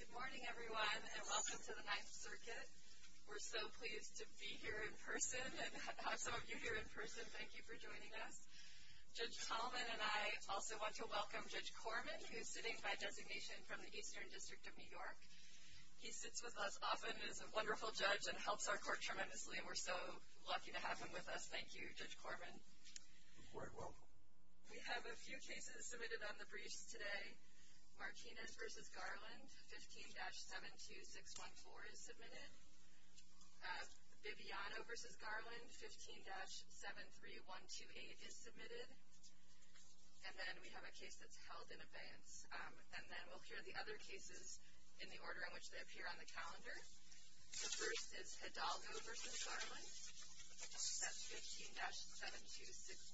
Good morning everyone and welcome to the 9th circuit. We're so pleased to be here in person and have some of you here in person. Thank you for joining us. Judge Tallman and I also want to welcome Judge Corman who is sitting by designation from the Eastern District of New York. He sits with us often and is a wonderful judge and helps our court tremendously and we're so lucky to have him with us. Thank you, Judge Corman. You're quite welcome. We have a few cases submitted on the briefs today. Martinez v. Garland, 15-72614 is submitted. Bibiano v. Garland, 15-73128 is submitted. And then we have a case that's held in advance. And then we'll hear the other cases in the order in which they appear on the calendar. The first is Hidalgo v. Garland, set 15-72607.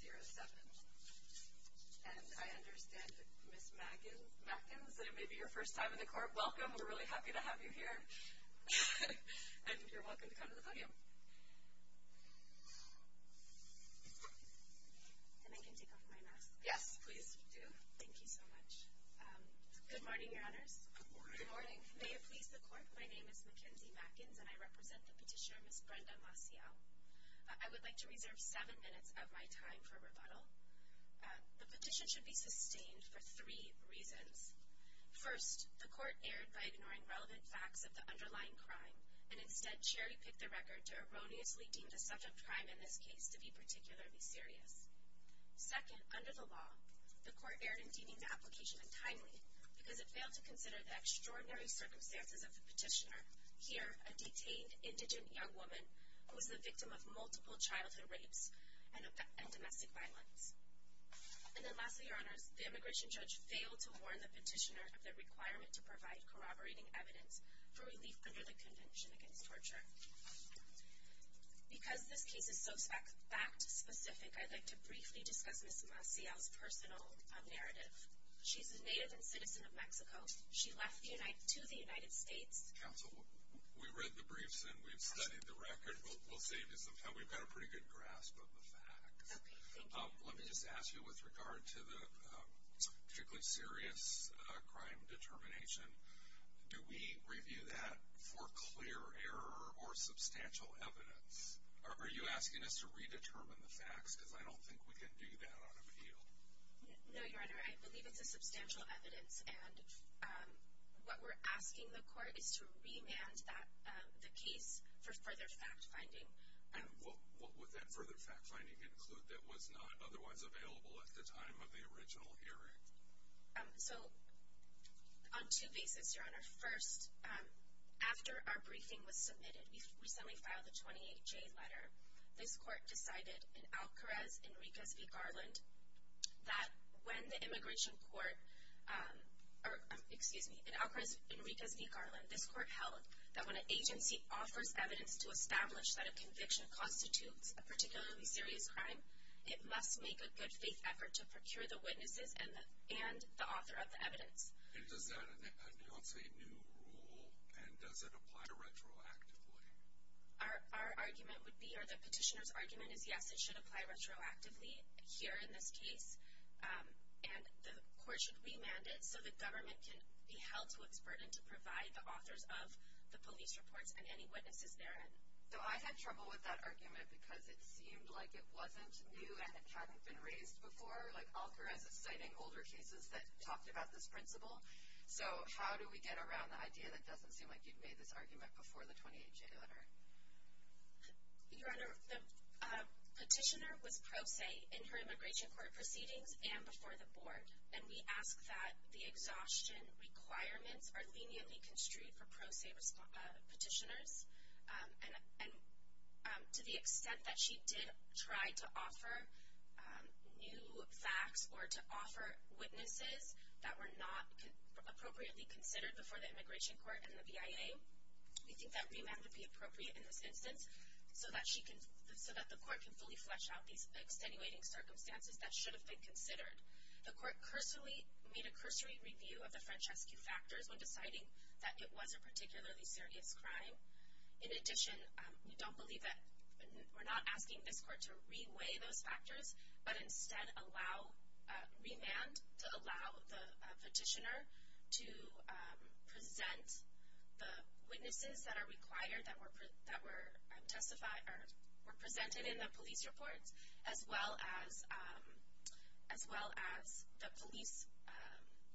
And I understand, Ms. Mackins, that it may be your first time in the court. Welcome. We're really happy to have you here. And you're welcome to come to the podium. And I can take off my mask? Yes, please do. Thank you so much. Good morning, Your Honors. Good morning. Good morning. May it please the Court, my name is Mackenzie Mackins, and I represent the petitioner, Ms. Brenda Maciel. I would like to reserve seven minutes of my time for rebuttal. The petition should be sustained for three reasons. First, the Court erred by ignoring relevant facts of the underlying crime and instead cherry-picked the record to erroneously deem the subject crime in this case to be particularly serious. Second, under the law, the Court erred in deeming the application untimely because it failed to consider the extraordinary circumstances of the petitioner, here a detained, indigent young woman who was the victim of multiple childhood rapes and domestic violence. And then lastly, Your Honors, the immigration judge failed to warn the petitioner of the requirement to provide corroborating evidence for relief under the Convention Against Torture. Because this case is so fact-specific, I'd like to briefly discuss Ms. Maciel's personal narrative. She's a native and citizen of Mexico. She left to the United States. Counsel, we read the briefs and we've studied the record. We'll save you some time. We've got a pretty good grasp of the facts. Okay, thank you. Let me just ask you with regard to the particularly serious crime determination, do we review that for clear error or substantial evidence? Are you asking us to redetermine the facts? Because I don't think we can do that on appeal. No, Your Honor. I believe it's a substantial evidence. And what we're asking the court is to remand the case for further fact-finding. And what would that further fact-finding include that was not otherwise available at the time of the original hearing? So, on two bases, Your Honor. First, after our briefing was submitted, we recently filed a 28-J letter. This court decided in Alcarez, Enriquez v. Garland, that when the immigration court or, excuse me, in Alcarez, Enriquez v. Garland, this court held that when an agency offers evidence to establish that a conviction constitutes a particularly serious crime, it must make a good faith effort to procure the witnesses and the author of the evidence. And does that announce a new rule? And does it apply retroactively? Our argument would be, or the petitioner's argument is, yes, it should apply retroactively here in this case. And the court should remand it so the government can be held to its burden to provide the authors of the police reports and any witnesses therein. So, I had trouble with that argument because it seemed like it wasn't new and it hadn't been raised before. Like, Alcarez is citing older cases that talked about this principle. So, how do we get around the idea that doesn't seem like you've made this argument before the 28-J letter? Your Honor, the petitioner was pro se in her immigration court proceedings and before the board. And we ask that the exhaustion requirements are leniently construed for pro se petitioners. And to the extent that she did try to offer new facts or to offer witnesses that were not appropriately considered before the immigration court and the BIA, we think that remand would be appropriate in this instance so that the court can fully flesh out these extenuating circumstances that should have been considered. The court made a cursory review of the French rescue factors when deciding that it was a particularly serious crime. In addition, we don't believe that we're not asking this court to reweigh those factors, but instead remand to allow the petitioner to present the witnesses that are required, that were presented in the police reports, as well as the police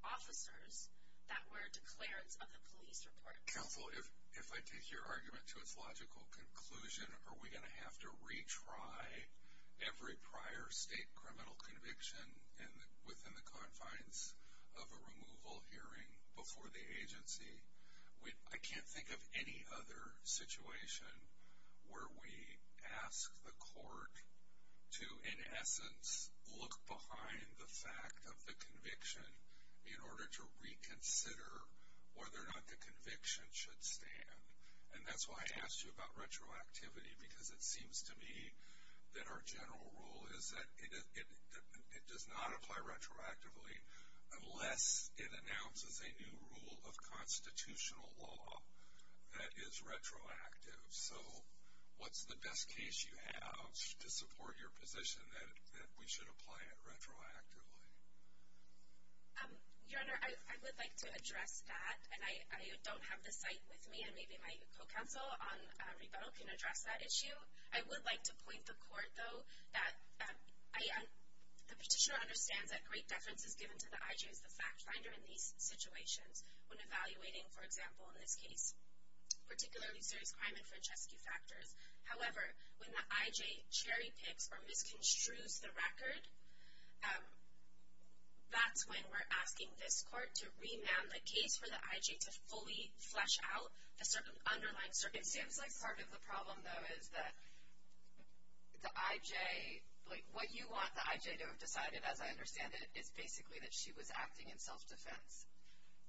officers that were declared of the police reports. Counsel, if I take your argument to its logical conclusion, are we going to have to retry every prior state criminal conviction within the confines of a removal hearing before the agency? I can't think of any other situation where we ask the court to, in essence, look behind the fact of the conviction in order to reconsider whether or not the conviction should stand. And that's why I asked you about retroactivity, because it seems to me that our general rule is that it does not apply retroactively unless it announces a new rule of constitutional law that is retroactive. So what's the best case you have to support your position that we should apply it retroactively? Your Honor, I would like to address that, and I don't have the site with me, and maybe my co-counsel on rebuttal can address that issue. I would like to point the court, though, that the petitioner understands that great deference is given to the I.J. as the fact finder in these situations when evaluating, for example, in this case, particularly serious crime and francescue factors. However, when the I.J. cherry-picks or misconstrues the record, that's when we're asking this court to remand the case for the I.J. to fully flesh out a certain underlying circumstance. It seems like part of the problem, though, is that the I.J. Like, what you want the I.J. to have decided, as I understand it, is basically that she was acting in self-defense.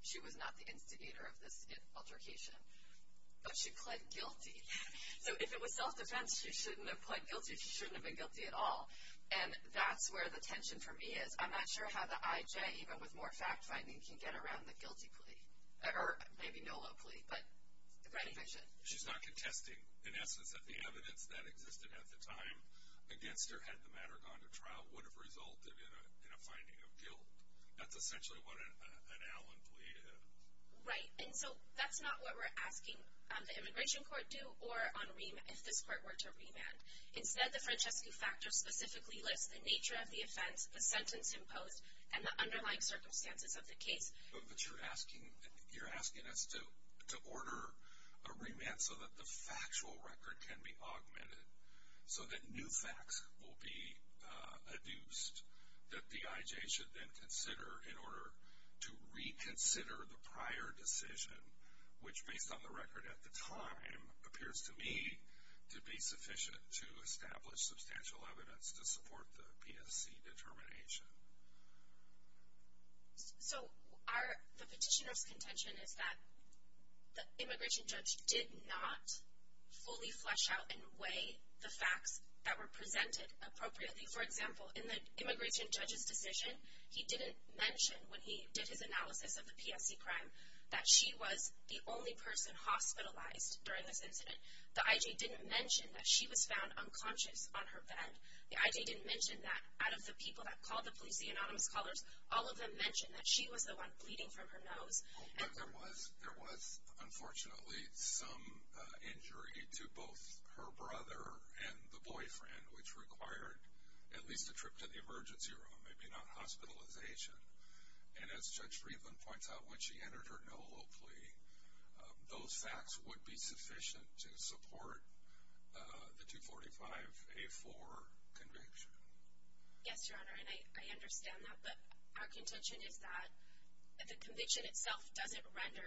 She was not the instigator of this altercation. But she pled guilty. So if it was self-defense, she shouldn't have pled guilty. She shouldn't have been guilty at all. And that's where the tension for me is. I'm not sure how the I.J., even with more fact-finding, can get around the guilty plea. Or maybe no-love plea, but the conviction. She's not contesting, in essence, that the evidence that existed at the time against her had the matter gone to trial would have resulted in a finding of guilt. That's essentially what an Allen plea is. Right. And so that's not what we're asking the immigration court do or if this court were to remand. Instead, the francescue factor specifically lists the nature of the offense, the sentence imposed, and the underlying circumstances of the case. But you're asking us to order a remand so that the factual record can be augmented, so that new facts will be adduced that the I.J. should then consider in order to reconsider the prior decision, which, based on the record at the time, appears to me to be sufficient to establish substantial evidence to support the PSC determination. So the petitioner's contention is that the immigration judge did not fully flesh out and weigh the facts that were presented appropriately. For example, in the immigration judge's decision, he didn't mention when he did his analysis of the PSC crime that she was the only person hospitalized during this incident. The I.J. didn't mention that she was found unconscious on her bed. The I.J. didn't mention that. Out of the people that called the police, the anonymous callers, all of them mentioned that she was the one bleeding from her nose. But there was, unfortunately, some injury to both her brother and the boyfriend, which required at least a trip to the emergency room, maybe not hospitalization. And as Judge Friedland points out, when she entered her NOLO plea, those facts would be sufficient to support the 245A4 conviction. Yes, Your Honor, and I understand that. But our contention is that the conviction itself doesn't render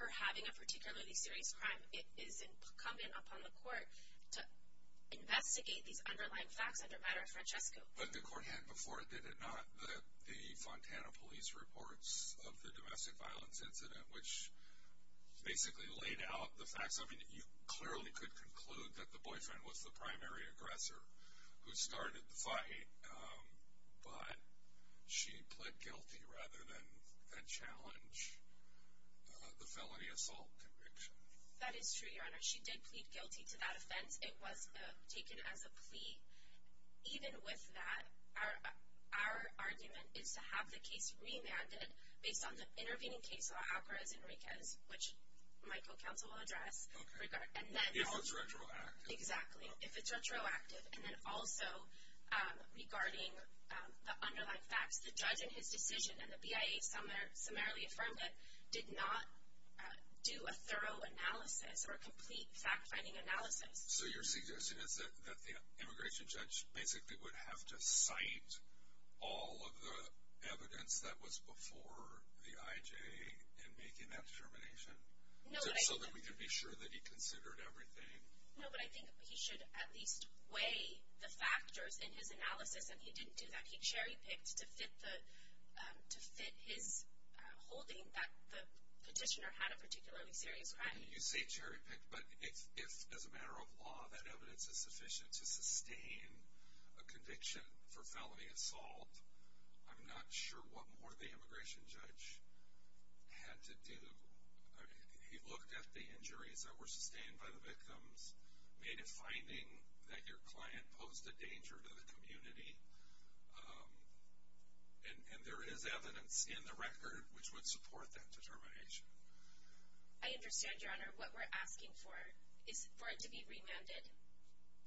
her having a particularly serious crime. It is incumbent upon the court to investigate these underlying facts under matter of Francesco. But the court had before it, did it not, the Fontana Police reports of the domestic violence incident, which basically laid out the facts. I mean, you clearly could conclude that the boyfriend was the primary aggressor who started the fight. But she pled guilty rather than challenge the felony assault conviction. That is true, Your Honor. She did plead guilty to that offense. It was taken as a plea. Even with that, our argument is to have the case remanded based on the intervening case law, Alvarez Enriquez, which my co-counsel will address. Okay. If it's retroactive. Exactly. If it's retroactive. And then also, regarding the underlying facts, the judge in his decision, and the BIA summarily affirmed it, did not do a thorough analysis or a complete fact-finding analysis. So you're suggesting that the immigration judge basically would have to cite all of the evidence that was before the IJA in making that determination? No. So that we can be sure that he considered everything. No, but I think he should at least weigh the factors in his analysis, and he didn't do that. He cherry-picked to fit his holding that the petitioner had a particularly serious crime. You say cherry-picked, but if, as a matter of law, that evidence is sufficient to sustain a conviction for felony assault, I'm not sure what more the immigration judge had to do. He looked at the injuries that were sustained by the victims, made a finding that your client posed a danger to the community, and there is evidence in the record which would support that determination. I understand, Your Honor. What we're asking for is for it to be remanded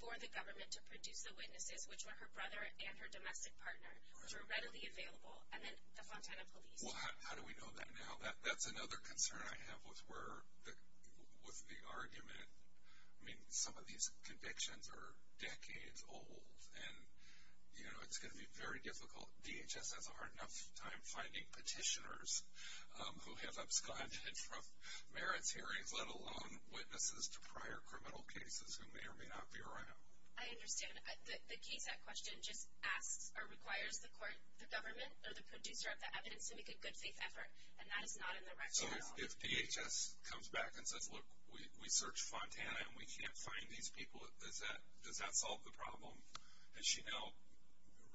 for the government to produce the witnesses, which were her brother and her domestic partner, which were readily available, and then the Fontana Police. Well, how do we know that now? That's another concern I have with the argument. I mean, some of these convictions are decades old, and it's going to be very difficult. DHS has a hard enough time finding petitioners who have absconded from merits hearings, let alone witnesses to prior criminal cases who may or may not be around. I understand. The case at question just asks or requires the government or the producer of the evidence to make a good faith effort, and that is not in the record at all. So if DHS comes back and says, look, we searched Fontana and we can't find these people, does that solve the problem? Has she now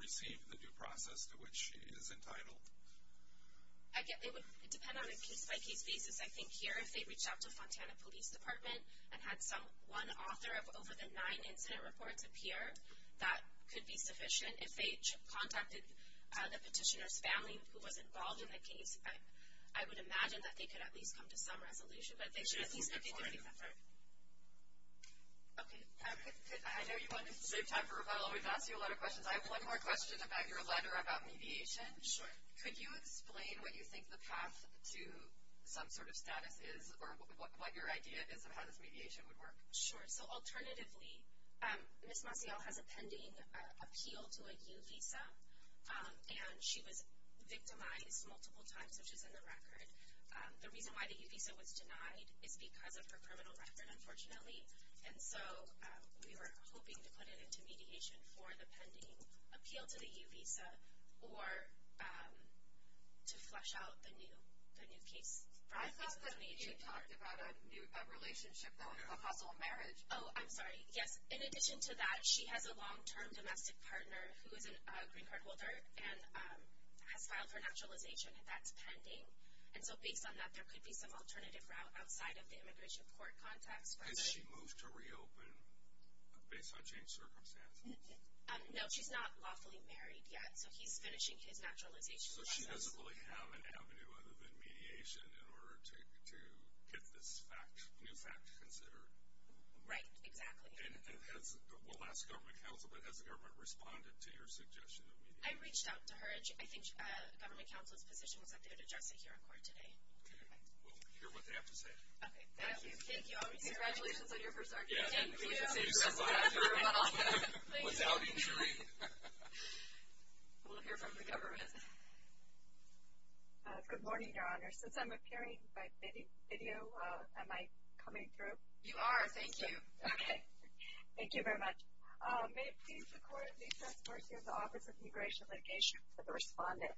received the due process to which she is entitled? It would depend on a case-by-case basis. I think here if they reached out to Fontana Police Department and had one author of over the nine incident reports appear, that could be sufficient. If they contacted the petitioner's family who was involved in the case, I would imagine that they could at least come to some resolution. But they should at least make a good faith effort. Okay. I know you wanted to save time for a follow-up. We've asked you a lot of questions. I have one more question about your letter about mediation. Sure. Could you explain what you think the path to some sort of status is or what your idea is of how this mediation would work? Sure. So alternatively, Ms. Maciel has a pending appeal to a U visa, and she was victimized multiple times, which is in the record. The reason why the U visa was denied is because of her criminal record, unfortunately. And so we were hoping to put it into mediation for the pending appeal to the U visa or to flesh out the new case. I thought that you talked about a relationship, though, and a possible marriage. Oh, I'm sorry. Yes. In addition to that, she has a long-term domestic partner who is a green card holder and has filed for naturalization, and that's pending. And so based on that, there could be some alternative route outside of the immigration court context. Has she moved to reopen based on changed circumstances? No, she's not lawfully married yet, so he's finishing his naturalization process. So she doesn't really have an avenue other than mediation in order to get this new fact considered. Right, exactly. And we'll ask government counsel, but has the government responded to your suggestion of mediation? I reached out to her. I think government counsel's position was that they would address it here in court today. Okay. We'll hear what they have to say. Okay. Thank you. Thank you. Congratulations on your first argument. Thank you. We'll hear from the government. Good morning, Your Honor. Since I'm appearing by video, am I coming through? You are. Thank you. Okay. Thank you very much. May it please the Court of the Excess Courts here in the Office of Immigration Litigation for the respondent.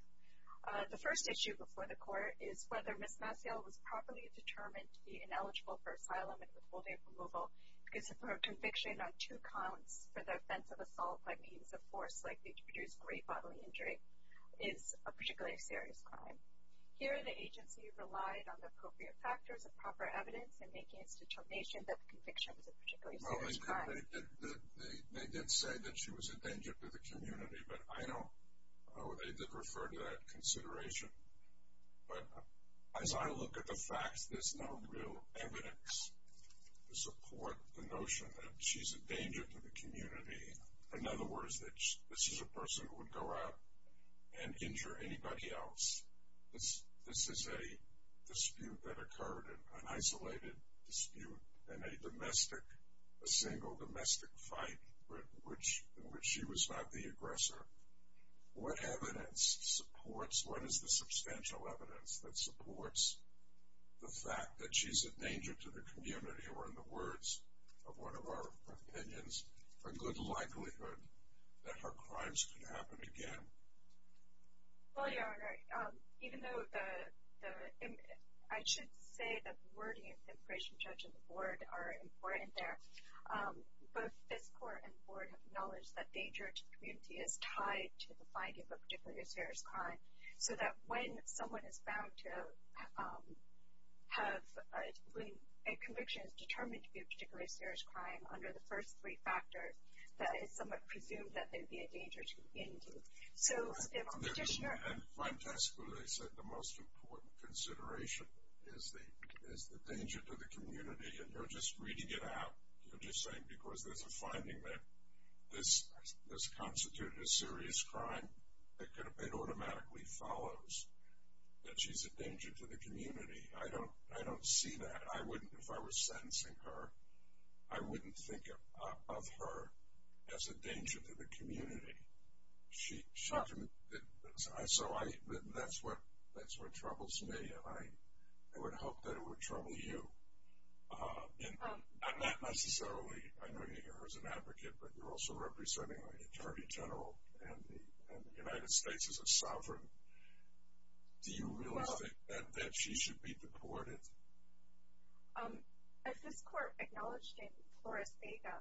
The first issue before the Court is whether Ms. Maciel was properly determined to be ineligible for asylum and withholding of removal because her conviction on two counts for the offense of assault by means of force likely to produce grave bodily injury is a particularly serious crime. Here the agency relied on the appropriate factors of proper evidence in making its determination that the conviction was a particularly serious crime. They did say that she was a danger to the community, but I know they did refer to that consideration. But as I look at the facts, there's no real evidence to support the notion that she's a danger to the community. In other words, that she's a person who would go out and injure anybody else. This is a dispute that occurred, an isolated dispute in a domestic, a single domestic fight in which she was not the aggressor. What evidence supports, what is the substantial evidence that supports the fact that she's a danger to the community or, in the words of one of our opinions, a good likelihood that her crimes could happen again? Well, Your Honor, even though the, I should say that the wording of the appraisal judge and the board are important there. Both this court and the board have acknowledged that danger to the community is tied to the finding of a particularly serious crime, so that when someone is bound to have a conviction determined to be a particularly serious crime under the first three factors, that it's somewhat presumed that there'd be a danger to the community. So, if a petitioner... And my testimony said the most important consideration is the danger to the community, and you're just reading it out. You're just saying because there's a finding that this constituted a serious crime, it automatically follows that she's a danger to the community. I don't see that. I wouldn't, if I were sentencing her, I wouldn't think of her as a danger to the community. So that's what troubles me, and I would hope that it would trouble you. Not necessarily, I know you're here as an advocate, but you're also representing an attorney general, and the United States is a sovereign. Do you really think that she should be deported? As this court acknowledged in Flores Vega,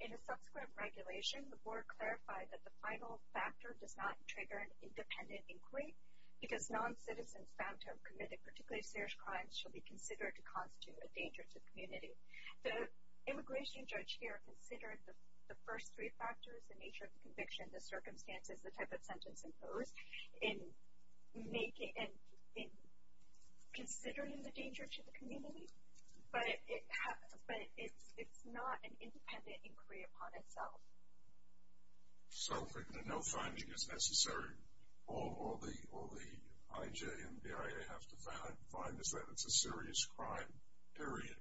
in a subsequent regulation, the board clarified that the final factor does not trigger an independent inquiry because non-citizens bound to have committed particularly serious crimes should be considered to constitute a danger to the community. The immigration judge here considered the first three factors, the nature of the conviction, the circumstances, the type of sentence imposed, in considering the danger to the community, but it's not an independent inquiry upon itself. So if we're going to know finding is necessary, all the IJ and the BIA have to find is that it's a serious crime, period?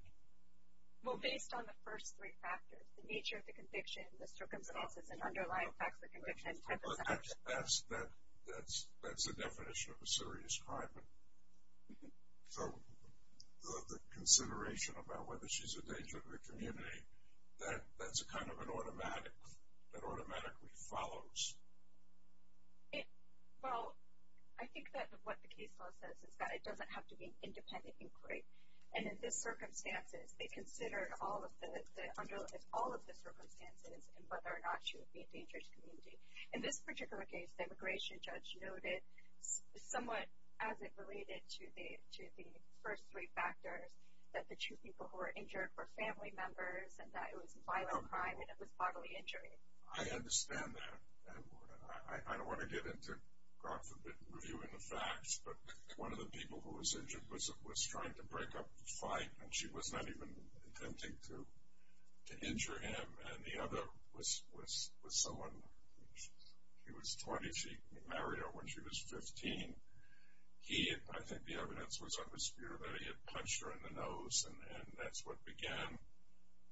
Well, based on the first three factors, the nature of the conviction, the circumstances, and underlying facts of the conviction and type of sentence. That's the definition of a serious crime. So the consideration about whether she's a danger to the community, that's kind of an automatic, that automatically follows. Well, I think that what the case law says is that it doesn't have to be an independent inquiry. And in this circumstances, they considered all of the circumstances and whether or not she would be a danger to the community. In this particular case, the immigration judge noted somewhat as it related to the first three factors that the two people who were injured were family members and that it was a violent crime and it was bodily injury. I understand that. I don't want to get into, God forbid, reviewing the facts, but one of the people who was injured was trying to break up the fight and she was not even intending to injure him. And the other was someone who was 20. She married him when she was 15. I think the evidence was on the spear that he had punched her in the nose, and that's what began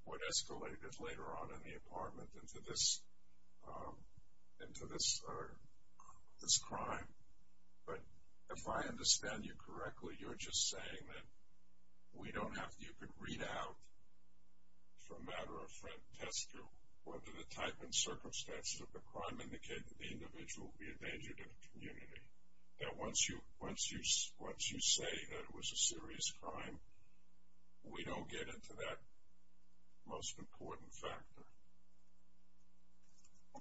what escalated later on in the apartment into this crime. But if I understand you correctly, you're just saying that we don't have to, you could read out for a matter of frontescue whether the type and circumstances of the crime indicate that the individual would be a danger to the community. That once you say that it was a serious crime, we don't get into that most important factor.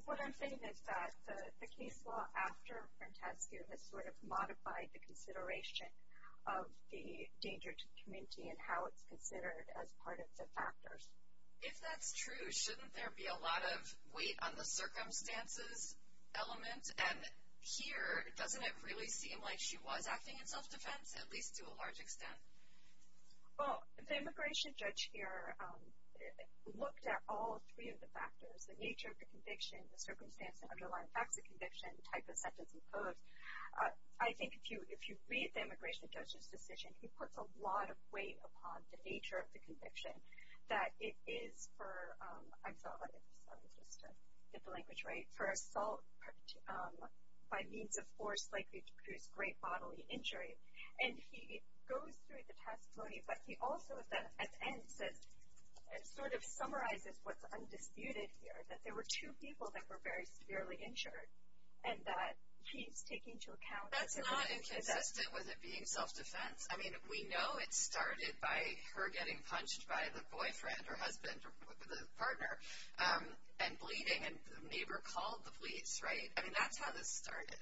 What I'm saying is that the case law after frontescue has sort of modified the consideration of the danger to the community and how it's considered as part of the factors. If that's true, shouldn't there be a lot of weight on the circumstances element? And here, doesn't it really seem like she was acting in self-defense, at least to a large extent? Well, the immigration judge here looked at all three of the factors, the nature of the conviction, the circumstances underlying facts of conviction, type of sentence imposed. I think if you read the immigration judge's decision, he puts a lot of weight upon the nature of the conviction, that it is for, I'm sorry if the language is right, for assault by means of force likely to produce great bodily injury. And he goes through the testimony, but he also at the end sort of summarizes what's undisputed here, that there were two people that were very severely injured and that he's taking into account. That's not inconsistent with it being self-defense. I mean, we know it started by her getting punched by the boyfriend or husband or the partner and bleeding, and the neighbor called the police, right? I mean, that's how this started.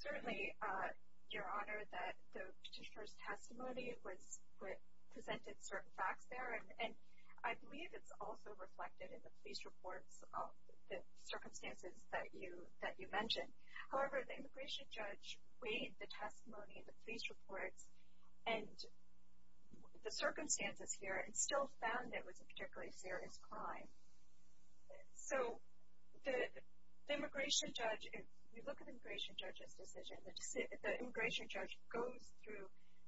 Certainly, Your Honor, that the petitioner's testimony presented certain facts there, and I believe it's also reflected in the police reports about the circumstances that you mentioned. However, the immigration judge weighed the testimony in the police reports and the circumstances here and still found it was a particularly serious crime. So the immigration judge, if you look at the immigration judge's decision, the immigration judge goes through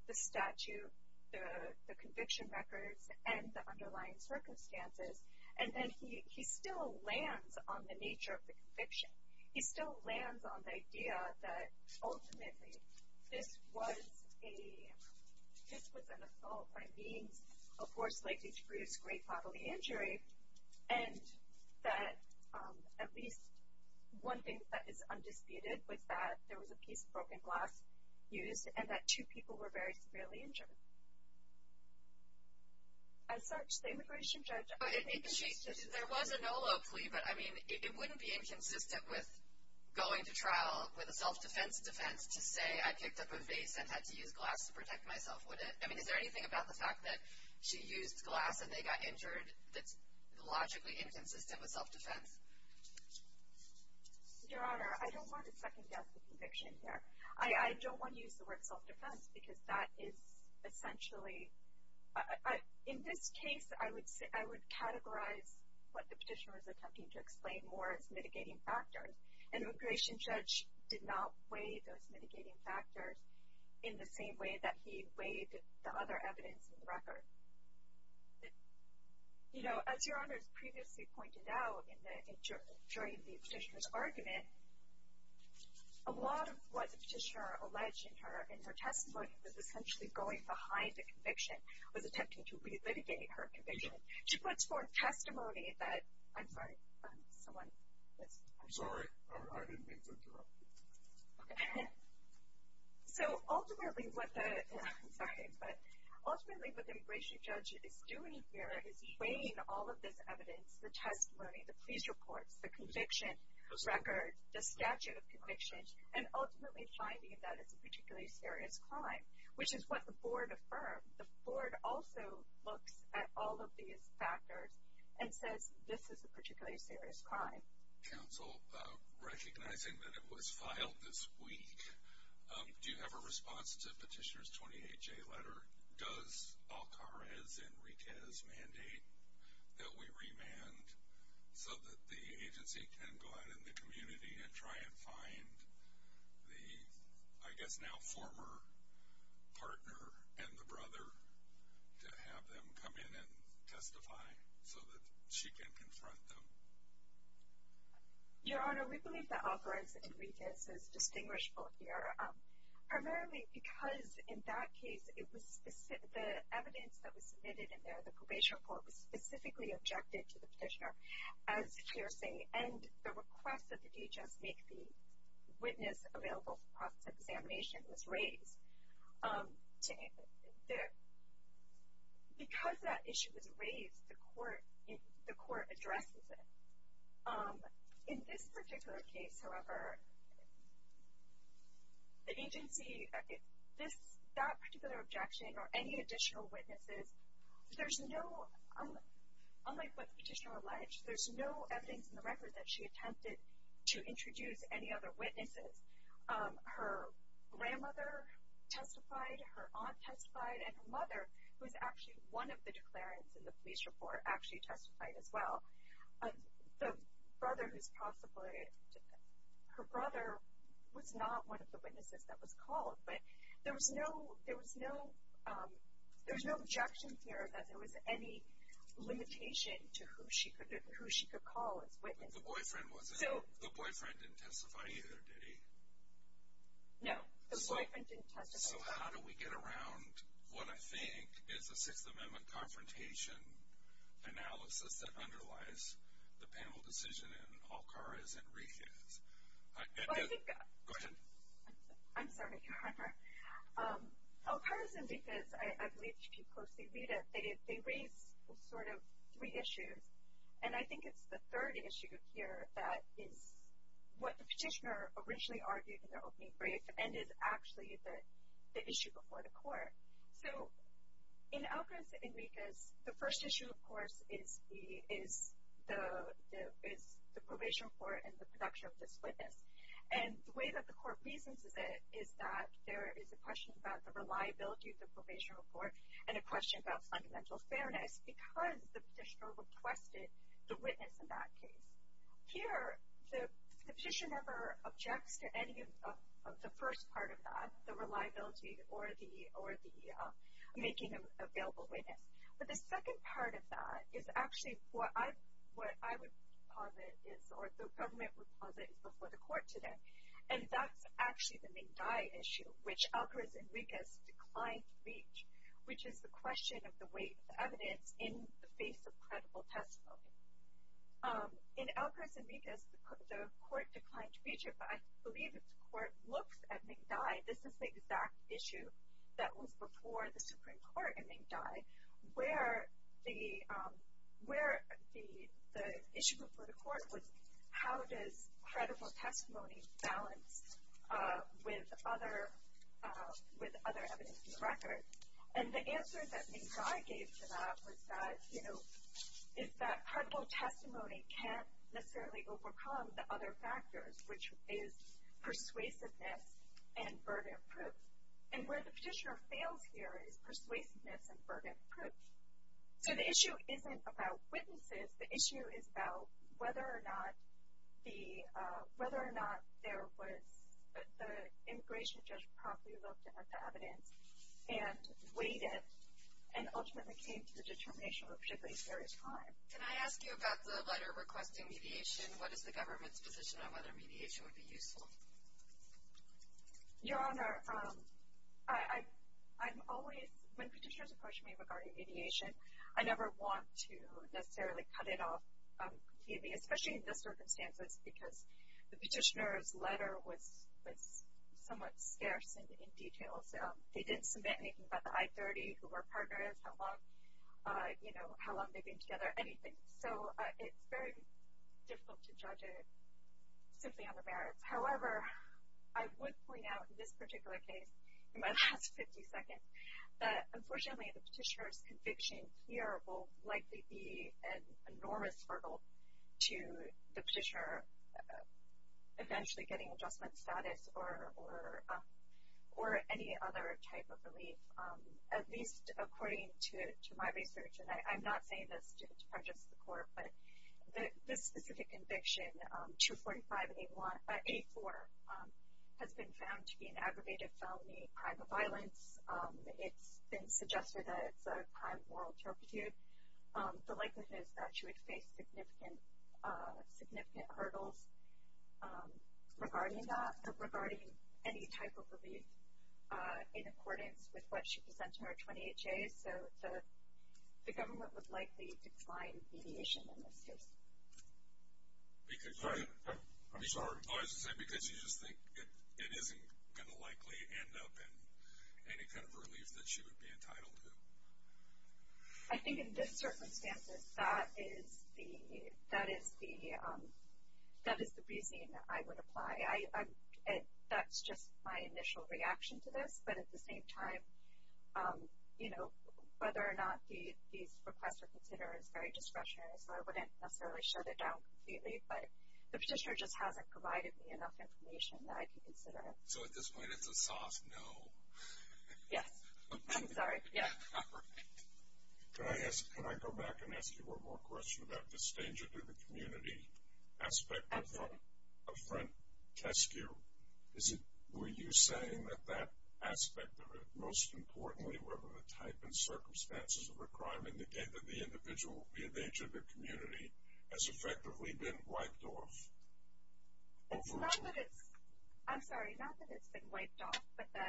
the statute, the conviction records, and the underlying circumstances, and then he still lands on the nature of the conviction. He still lands on the idea that ultimately this was an assault by means of force likely to produce great bodily injury, and that at least one thing that is undisputed was that there was a piece of broken glass used and that two people were very severely injured. As such, the immigration judge— There was an OLO plea, but, I mean, it wouldn't be inconsistent with going to trial with a self-defense defense to say I picked up a vase and had to use glass to protect myself, would it? I mean, is there anything about the fact that she used glass and they got injured that's logically inconsistent with self-defense? Your Honor, I don't want to second-guess the conviction here. I don't want to use the word self-defense because that is essentially— In this case, I would categorize what the petitioner was attempting to explain more as mitigating factors. An immigration judge did not weigh those mitigating factors in the same way that he weighed the other evidence in the record. You know, as Your Honor has previously pointed out during the petitioner's argument, a lot of what the petitioner alleged in her testimony was essentially going behind the conviction, was attempting to relitigate her conviction. She puts forth testimony that—I'm sorry, someone— I'm sorry, I didn't mean to interrupt you. Okay. So ultimately what the—I'm sorry, but ultimately what the immigration judge is doing here is weighing all of this evidence, the testimony, the pleas reports, the conviction record, the statute of convictions, and ultimately finding that it's a particularly serious crime, which is what the board affirmed. The board also looks at all of these factors and says this is a particularly serious crime. Counsel, recognizing that it was filed this week, do you have a response to Petitioner's 28-J letter? Does Alcárez-Enriquez mandate that we remand so that the agency can go out in the community and try and find the, I guess now former partner and the brother to have them come in and testify so that she can confront them? Your Honor, we believe that Alcárez-Enriquez is distinguishable here primarily because in that case, the evidence that was submitted in there, the probation report, was specifically objected to the petitioner as piercing, and the request that the DHS make the witness available for process examination was raised. Because that issue was raised, the court addresses it. In this particular case, however, the agency, that particular objection or any additional witnesses, there's no, unlike what the petitioner alleged, there's no evidence in the record that she attempted to introduce any other witnesses. Her grandmother testified, her aunt testified, and her mother, who is actually one of the declarants in the police report, actually testified as well. The brother who's possibly, her brother was not one of the witnesses that was called, but there was no objection here that there was any limitation to who she could call as witness. But the boyfriend wasn't, the boyfriend didn't testify either, did he? No, the boyfriend didn't testify. So how do we get around what I think is a Sixth Amendment confrontation analysis that underlies the panel decision in Alcárez-Enriquez? Go ahead. I'm sorry, Your Honor. Alcárez-Enriquez, I believe if you closely read it, they raise sort of three issues. And I think it's the third issue here that is what the petitioner originally argued in their opening brief and is actually the issue before the court. So in Alcárez-Enriquez, the first issue, of course, is the probation report and the production of this witness. And the way that the court reasons is that there is a question about the reliability of the probation report and a question about fundamental fairness because the petitioner requested the witness in that case. Here, the petitioner never objects to any of the first part of that, the reliability or the making available witness. But the second part of that is actually what I would posit is, or the government would posit, is before the court today. And that's actually the main die issue, which Alcárez-Enriquez declined to reach, which is the question of the weight of the evidence in the face of credible testimony. In Alcárez-Enriquez, the court declined to reach it, but I believe if the court looks at Ming Dai, this is the exact issue that was before the Supreme Court in Ming Dai, where the issue before the court was how does credible testimony balance with other evidence in the record. And the answer that Ming Dai gave to that was that, you know, is that credible testimony can't necessarily overcome the other factors, which is persuasiveness and verdict proof. And where the petitioner fails here is persuasiveness and verdict proof. So the issue isn't about witnesses. The issue is about whether or not the immigration judge properly looked at the evidence and weighed it and ultimately came to the determination of a particularly serious crime. Can I ask you about the letter requesting mediation? What is the government's position on whether mediation would be useful? Your Honor, I'm always, when petitioners approach me regarding mediation, I never want to necessarily cut it off completely, especially in this circumstance, because the petitioner's letter was somewhat scarce in details. They didn't submit anything about the I30, who her partner is, how long they've been together, anything. So it's very difficult to judge it simply on the merits. However, I would point out in this particular case, in my last 50 seconds, that unfortunately the petitioner's conviction here will likely be an enormous hurdle to the petitioner eventually getting adjustment status or any other type of relief, at least according to my research. And I'm not saying this to prejudice the court, but this specific conviction, 245A4, has been found to be an aggravated felony, a crime of violence. It's been suggested that it's a crime of moral turpitude. The likelihood is that she would face significant hurdles regarding that, regarding any type of relief in accordance with what she presents in her 28Js. So the government would likely decline mediation in this case. I'm sorry. I was going to say, because you just think it isn't going to likely end up in any kind of relief that she would be entitled to. I think in this circumstance, that is the reasoning that I would apply. That's just my initial reaction to this, but at the same time, you know, whether or not these requests are considered is very discretionary, so I wouldn't necessarily shut it down completely. But the petitioner just hasn't provided me enough information that I can consider. So at this point, it's a soft no. Yes. I'm sorry. Yeah. Can I go back and ask you one more question about this danger to the community aspect of front test skew? Were you saying that that aspect of it, most importantly, whether the type and circumstances of the crime indicate that the individual, be it the age of their community, has effectively been wiped off? I'm sorry, not that it's been wiped off, but the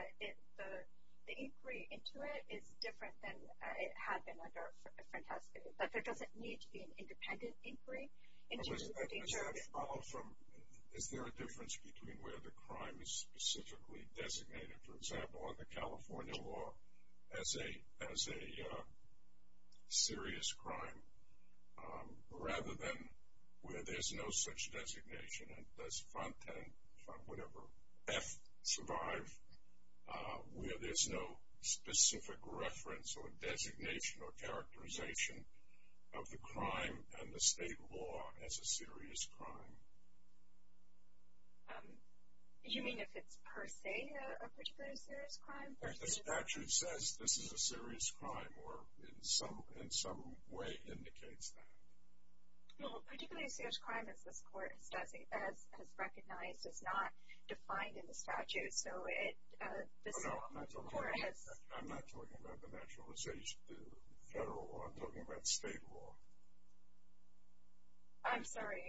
inquiry into it is different than it had been under front test skew. But there doesn't need to be an independent inquiry into the danger of it. Is there a difference between where the crime is specifically designated, for example, under California law, as a serious crime, rather than where there's no such designation? And does front end, front whatever, F, survive, where there's no specific reference or designation or characterization of the crime and the state law as a serious crime? You mean if it's per se a particularly serious crime? If the statute says this is a serious crime or in some way indicates that. Well, particularly a serious crime, as this court has recognized, is not defined in the statute. Oh, no, I'm not talking about the federal law, I'm talking about state law. I'm sorry.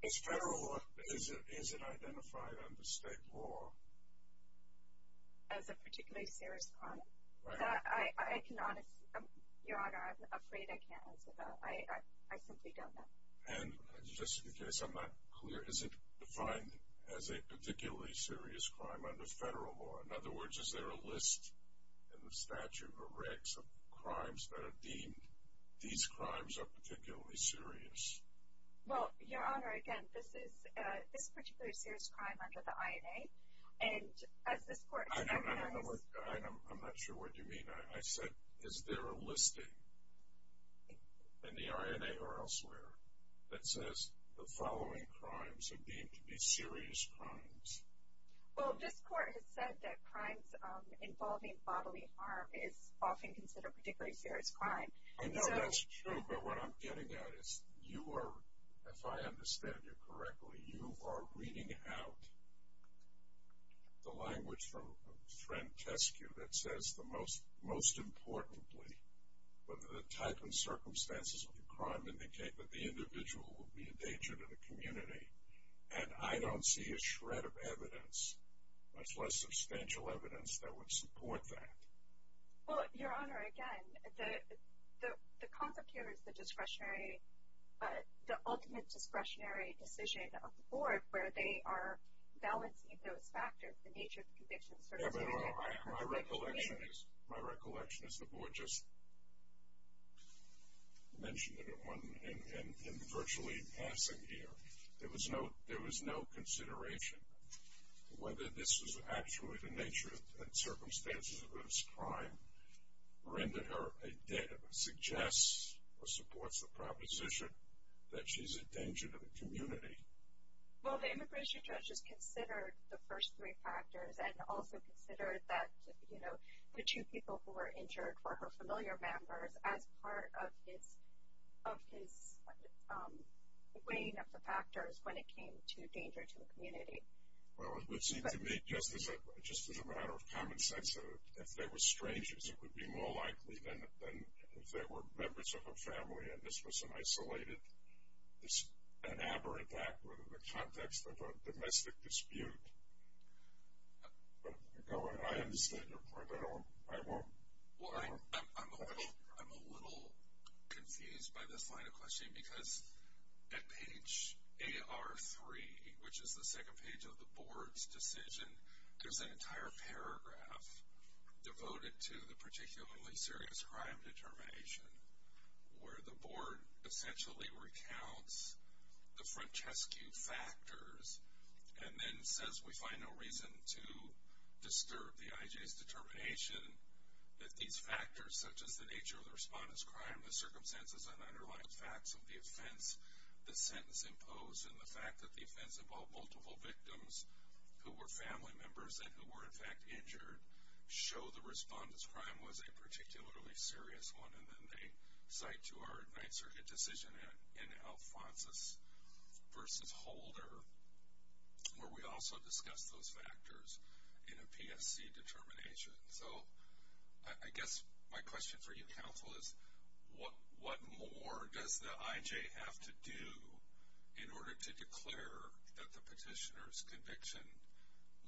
Is federal law, is it identified under state law? As a particularly serious crime. Your Honor, I'm afraid I can't answer that. I simply don't know. And just in case I'm not clear, is it defined as a particularly serious crime under federal law? In other words, is there a list in the statute or regs of crimes that are deemed, these crimes are particularly serious? Well, Your Honor, again, this is a particularly serious crime under the INA, and as this court has recognized. I'm not sure what you mean. I said is there a listing in the INA or elsewhere that says the following crimes are deemed to be serious crimes? Well, this court has said that crimes involving bodily harm is often considered a particularly serious crime. I know that's true, but what I'm getting at is you are, if I understand you correctly, you are reading out the language from Trent Teskew that says, most importantly, the type and circumstances of the crime indicate that the individual will be a danger to the community. And I don't see a shred of evidence, much less substantial evidence, that would support that. Well, Your Honor, again, the concept here is the discretionary, the ultimate discretionary decision of the board where they are balancing those factors, the nature of the conviction, certainly. My recollection is the board just mentioned it in virtually passing here. There was no consideration whether this was actually the nature and circumstances of this crime, which renders her a dead, suggests or supports the proposition that she's a danger to the community. Well, the immigration judge has considered the first three factors and also considered that, you know, the two people who were injured were her familiar members as part of his weighing of the factors when it came to danger to the community. Well, it would seem to me, just as a matter of common sense, if they were strangers, it would be more likely than if they were members of a family and this was an isolated, an aberrant act within the context of a domestic dispute. But, Your Honor, I understand your point. I don't, I won't. Well, I'm a little confused by this final question because at page AR3, which is the second page of the board's decision, there's an entire paragraph devoted to the particularly serious crime determination where the board essentially recounts the Francescu factors and then says we find no reason to disturb the IJ's determination that these factors, such as the nature of the respondent's crime, the circumstances, and underlying facts of the offense, the sentence imposed, and the fact that the offense involved multiple victims who were family members and who were, in fact, injured, show the respondent's crime was a particularly serious one, and then they cite to our advanced circuit decision in Alphonsus v. Holder where we also discuss those factors in a PSC determination. So I guess my question for you, Counsel, is what more does the IJ have to do in order to declare that the petitioner's conviction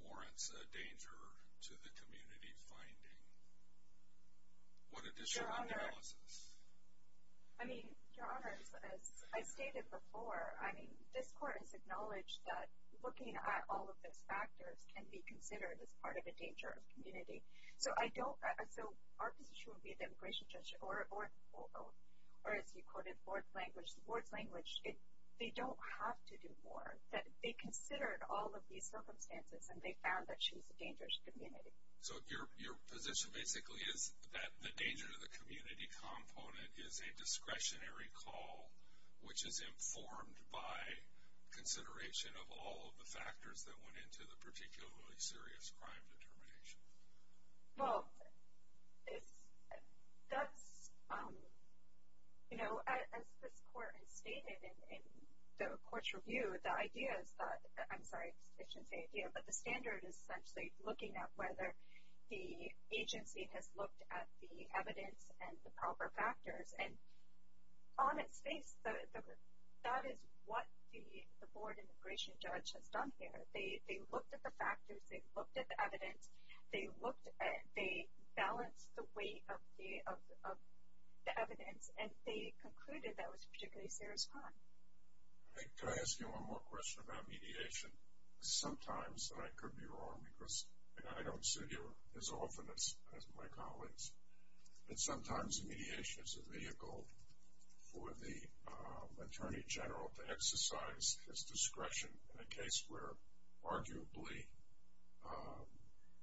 warrants a danger to the community finding? What additional analysis? I mean, Your Honor, as I stated before, I mean, this court has acknowledged that looking at all of those factors can be considered as part of a danger of community. So our position would be the immigration judge or, as you quoted, the board's language, they don't have to do more. They considered all of these circumstances, and they found that she was a dangerous community. So your position basically is that the danger to the community component is a discretionary call which is informed by consideration of all of the factors that went into the particularly serious crime determination. Well, that's, you know, as this court has stated in the court's review, the idea is that, I'm sorry, I shouldn't say idea, but the standard is essentially looking at whether the agency has looked at the evidence and the proper factors. And on its face, that is what the board immigration judge has done here. They looked at the factors. They looked at the evidence. They balanced the weight of the evidence, and they concluded that it was a particularly serious crime. Could I ask you one more question about mediation? Sometimes, and I could be wrong because I don't sit here as often as my colleagues, but sometimes mediation is a vehicle for the attorney general to exercise his discretion in a case where arguably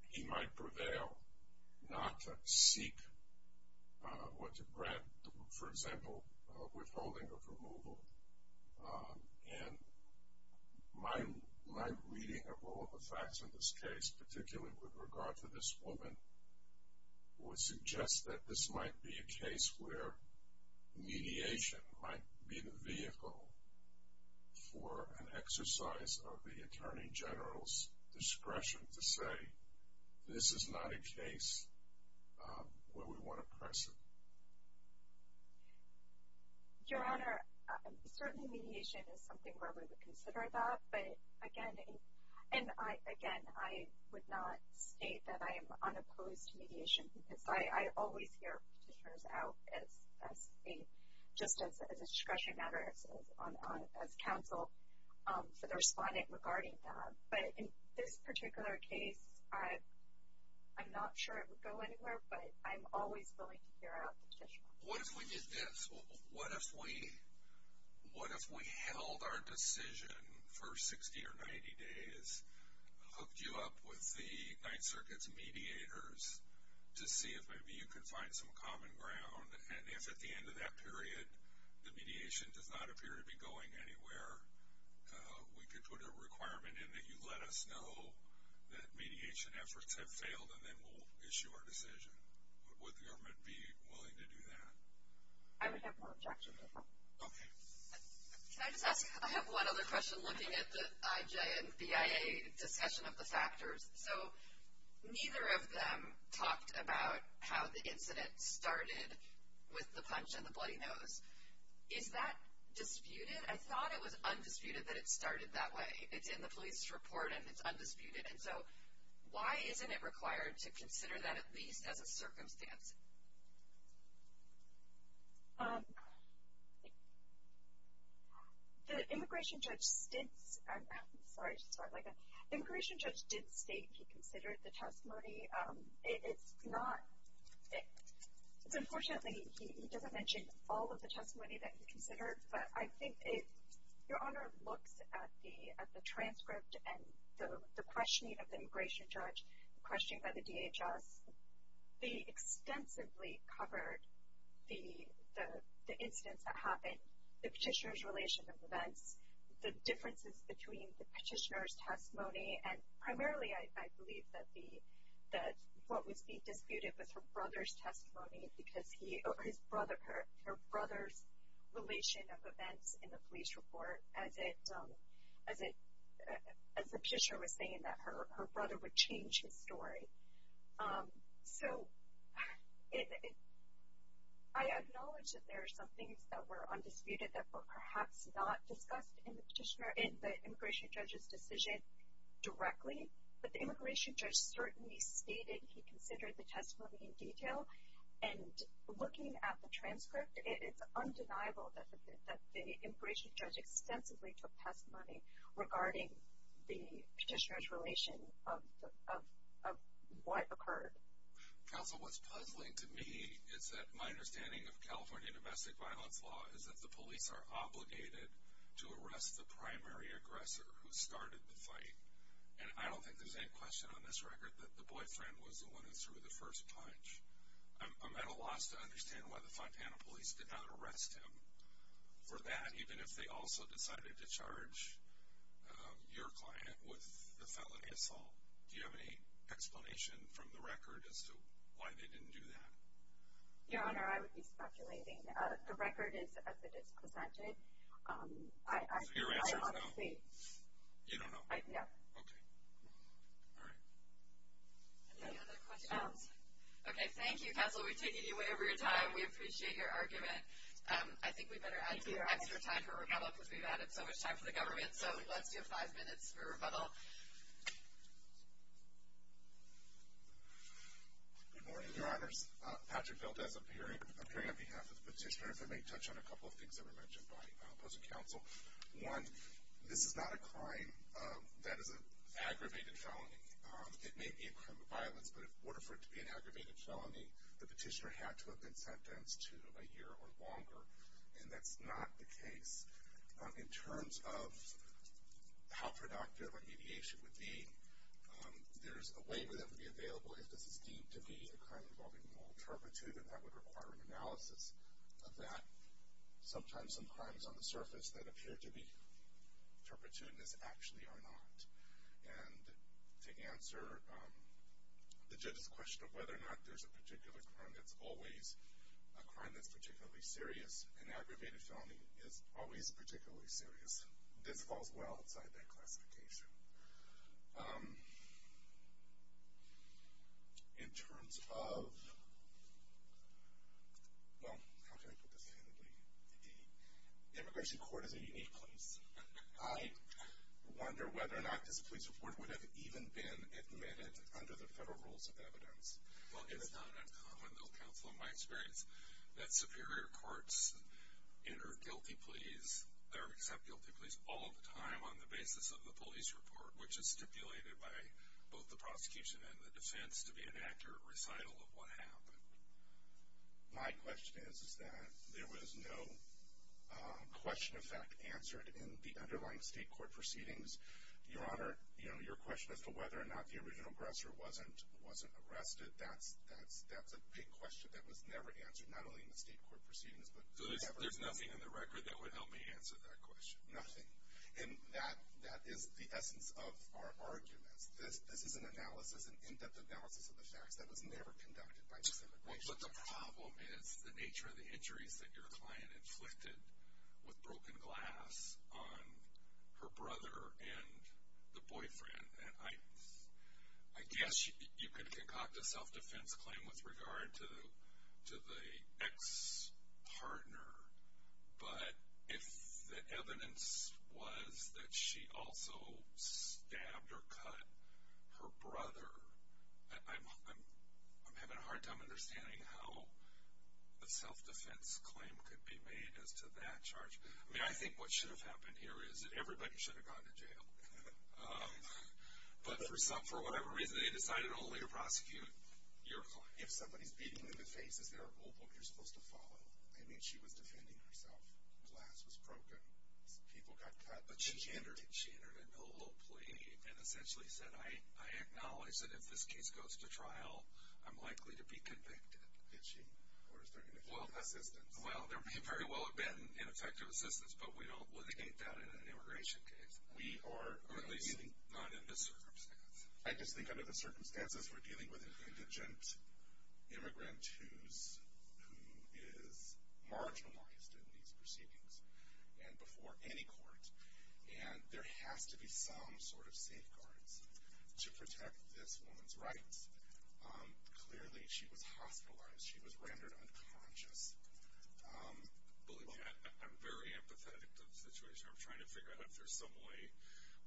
he might prevail not to seek or to grant, for example, withholding of removal. And my reading of all of the facts in this case, particularly with regard to this woman, would suggest that this might be a case where mediation might be the vehicle for an exercise of the attorney general's discretion to say this is not a case where we want to press it. Your Honor, certainly mediation is something where we would consider that. But, again, I would not state that I am unopposed to mediation because I always hear petitioners out just as a discretionary matter, as counsel for the respondent regarding that. But in this particular case, I'm not sure it would go anywhere, but I'm always willing to hear out the petitioner. What if we did this? What if we held our decision for 60 or 90 days, hooked you up with the Ninth Circuit's mediators to see if maybe you could find some common ground? And if at the end of that period the mediation does not appear to be going anywhere, we could put a requirement in that you let us know that mediation efforts have failed and then we'll issue our decision. Would the government be willing to do that? I would have no objection to that. Okay. Can I just ask? I have one other question looking at the IJ and BIA discussion of the factors. So neither of them talked about how the incident started with the punch in the bloody nose. Is that disputed? I thought it was undisputed that it started that way. It's in the police report and it's undisputed. And so why isn't it required to consider that at least as a circumstance? The immigration judge did state he considered the testimony. It's not ‑‑ unfortunately he doesn't mention all of the testimony that he considered, but I think if your Honor looks at the transcript and the questioning of the immigration judge, the questioning by the DHS, they extensively covered the incidents that happened, the petitioner's relation of events, the differences between the petitioner's testimony, and primarily I believe that what was being disputed was her brother's testimony because his brother, her brother's relation of events in the police report as the petitioner was saying that her brother would change his story. So I acknowledge that there are some things that were undisputed that were perhaps not discussed in the immigration judge's decision directly, but the immigration judge certainly stated he considered the testimony in detail. And looking at the transcript, it's undeniable that the immigration judge extensively took testimony regarding the petitioner's relation of what occurred. Counsel, what's puzzling to me is that my understanding of California domestic violence law is that the police are obligated to arrest the primary aggressor who started the fight. And I don't think there's any question on this record that the boyfriend was the one who threw the first punch. I'm at a loss to understand why the Fontana police did not arrest him for that, even if they also decided to charge your client with the felony assault. Do you have any explanation from the record as to why they didn't do that? Your Honor, I would be speculating. The record is as it is presented. So your answer is no? You don't know? No. Okay. All right. Any other questions? Okay, thank you, Counsel. We've taken you way over your time. We appreciate your argument. I think we'd better add to your extra time for rebuttal because we've added so much time for the government. So let's do five minutes for rebuttal. Good morning, Your Honors. Patrick Valdes appearing on behalf of the petitioners. I may touch on a couple of things that were mentioned by opposing counsel. One, this is not a crime that is an aggravated felony. It may be a crime of violence, but in order for it to be an aggravated felony, the petitioner had to have been sentenced to a year or longer, and that's not the case. In terms of how productive a mediation would be, there's a waiver that would be available if this is deemed to be a crime involving moral turpitude, and that would require an analysis of that. Sometimes some crimes on the surface that appear to be turpitudinous actually are not. And to answer the judge's question of whether or not there's a particular crime that's always a crime that's particularly serious, an aggravated felony is always particularly serious. This falls well outside that classification. In terms of, well, how can I put this handily? The immigration court is a unique place. I wonder whether or not this police report would have even been admitted under the federal rules of evidence. Well, it's not uncommon, though, counsel, in my experience, that superior courts enter guilty pleas, or accept guilty pleas, all the time on the basis of the police report, which is stipulated by both the prosecution and the defense to be an accurate recital of what happened. My question is that there was no question of fact answered in the underlying state court proceedings. Your Honor, your question as to whether or not the original aggressor wasn't arrested, that's a big question that was never answered, not only in the state court proceedings, but forever. So there's nothing in the record that would help me answer that question? Nothing. And that is the essence of our arguments. This is an analysis, an in-depth analysis of the facts that was never conducted by this immigration court. But the problem is the nature of the injuries that your client inflicted with broken glass on her brother and the boyfriend. And I guess you could concoct a self-defense claim with regard to the ex-partner, but if the evidence was that she also stabbed or cut her brother, I'm having a hard time understanding how a self-defense claim could be made as to that charge. I mean, I think what should have happened here is that everybody should have gone to jail. But for whatever reason, they decided only to prosecute your client. If somebody's beating you in the face, is there a rulebook you're supposed to follow? I mean, she was defending herself. Glass was broken. People got cut. But she entered into a little plea and essentially said, I acknowledge that if this case goes to trial, I'm likely to be convicted. Did she? Or is there going to be assistance? Well, there may very well have been an effective assistance, but we don't litigate that in an immigration case, or at least not in this circumstance. I just think under the circumstances, we're dealing with an indigent immigrant who is marginalized in these proceedings and before any court, and there has to be some sort of safeguards to protect this woman's rights. Clearly, she was hospitalized. She was rendered unconscious. I'm very empathetic to the situation. I'm trying to figure out if there's some way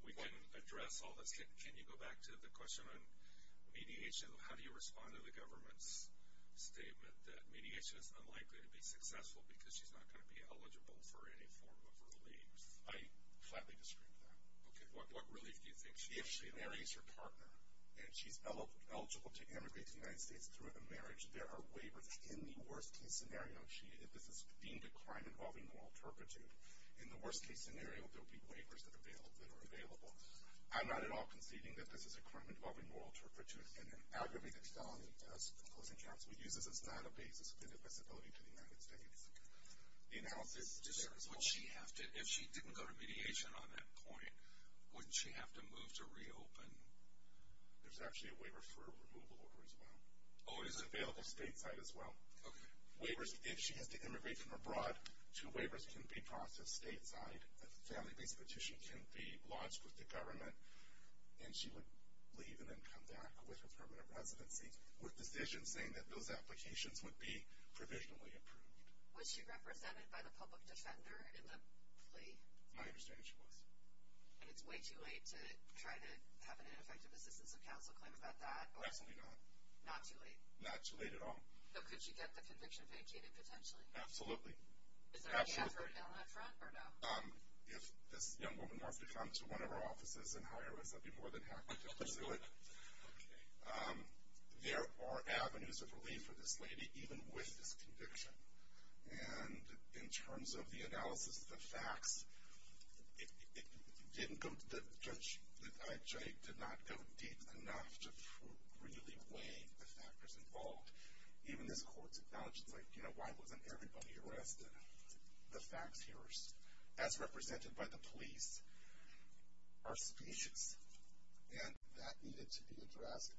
we can address all this. Can you go back to the question on mediation? How do you respond to the government's statement that mediation is unlikely to be successful because she's not going to be eligible for any form of relief? I flatly disagree with that. Okay. What relief do you think she's going to get? If she marries her partner and she's eligible to immigrate to the United States through a marriage, there are waivers in the worst-case scenario. This is deemed a crime involving moral turpitude. In the worst-case scenario, there will be waivers that are available. I'm not at all conceding that this is a crime involving moral turpitude and an aggravated felony as a closing charge. We use this as not a basis of inadmissibility to the United States. If she didn't go to mediation on that point, wouldn't she have to move to reopen? There's actually a waiver for a removal order as well. Oh, is it? It's available stateside as well. Okay. If she has to immigrate from abroad, two waivers can be processed stateside. A family-based petition can be lodged with the government, and she would leave and then come back with her permanent residency with decisions saying that those applications would be provisionally approved. Was she represented by the public defender in the plea? My understanding, she was. And it's way too late to try to have an ineffective assistance of counsel claim about that? Absolutely not. Not too late? Not too late at all. So could she get the conviction vacated potentially? Absolutely. Is there any effort now up front or no? If this young woman wants to come to one of our offices and hire us, I'd be more than happy to pursue it. Okay. There are avenues of relief for this lady, even with this conviction. And in terms of the analysis of the facts, it didn't go to the judge. The judge did not go deep enough to really weigh the factors involved. Even this court's acknowledged it. It's like, you know, why wasn't everybody arrested? The facts here, as represented by the police, are specious. And that needed to be addressed.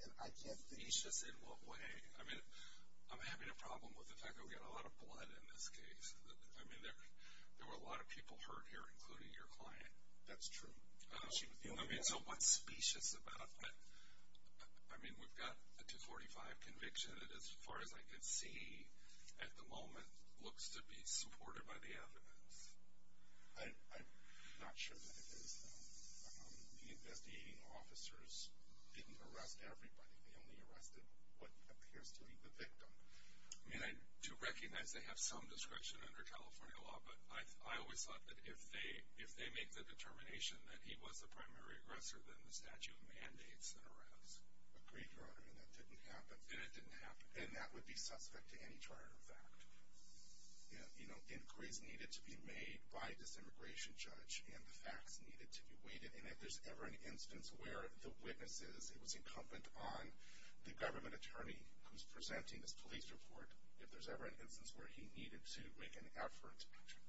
Specious in what way? I mean, I'm having a problem with the fact that we've got a lot of blood in this case. I mean, there were a lot of people hurt here, including your client. That's true. I mean, so what's specious about that? I mean, we've got a 245 conviction that, as far as I can see at the moment, looks to be supported by the evidence. I'm not sure that it is, though. The investigating officers didn't arrest everybody. They only arrested what appears to be the victim. I mean, I do recognize they have some discretion under California law, but I always thought that if they make the determination that he was the primary aggressor, then the statute mandates an arrest. Agreed, Your Honor, and that didn't happen. And it didn't happen. And that would be suspect to any trier of fact. You know, inquiries needed to be made by this immigration judge, and the facts needed to be weighted, and if there's ever an instance where the witnesses, it was incumbent on the government attorney who's presenting this police report, if there's ever an instance where he needed to make an effort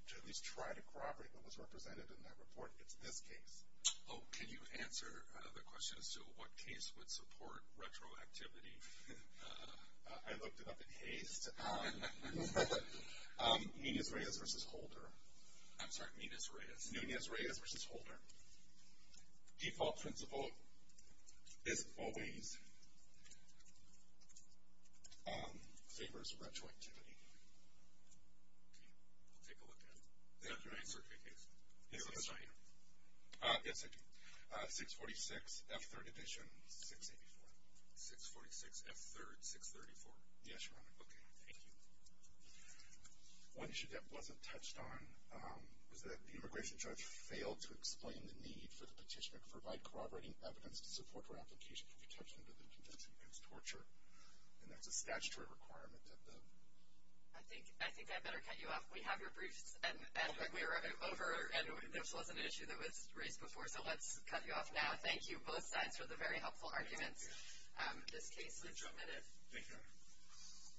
to at least try to corroborate what was represented in that report, it's this case. Oh, can you answer the question as to what case would support retroactivity? I looked it up in haste. Nunez-Reyes v. Holder. I'm sorry, Nunez-Reyes. Nunez-Reyes v. Holder. Default principle is always favors retroactivity. Okay. I'll take a look at it. Did I answer the case? Yes, I did. 646 F3rd Division, 684. 646 F3rd, 634. Yes, Your Honor. Okay. Thank you. One issue that wasn't touched on was that the immigration judge failed to explain the need for the petitioner to provide corroborating evidence to support her application for detention under the Convention Against Torture, and that's a statutory requirement. I think I better cut you off. We have your briefs, and we're over, and there wasn't an issue that was raised before, so let's cut you off now. Thank you, both sides, for the very helpful arguments in this case. Thank you. Thank you, Your Honor.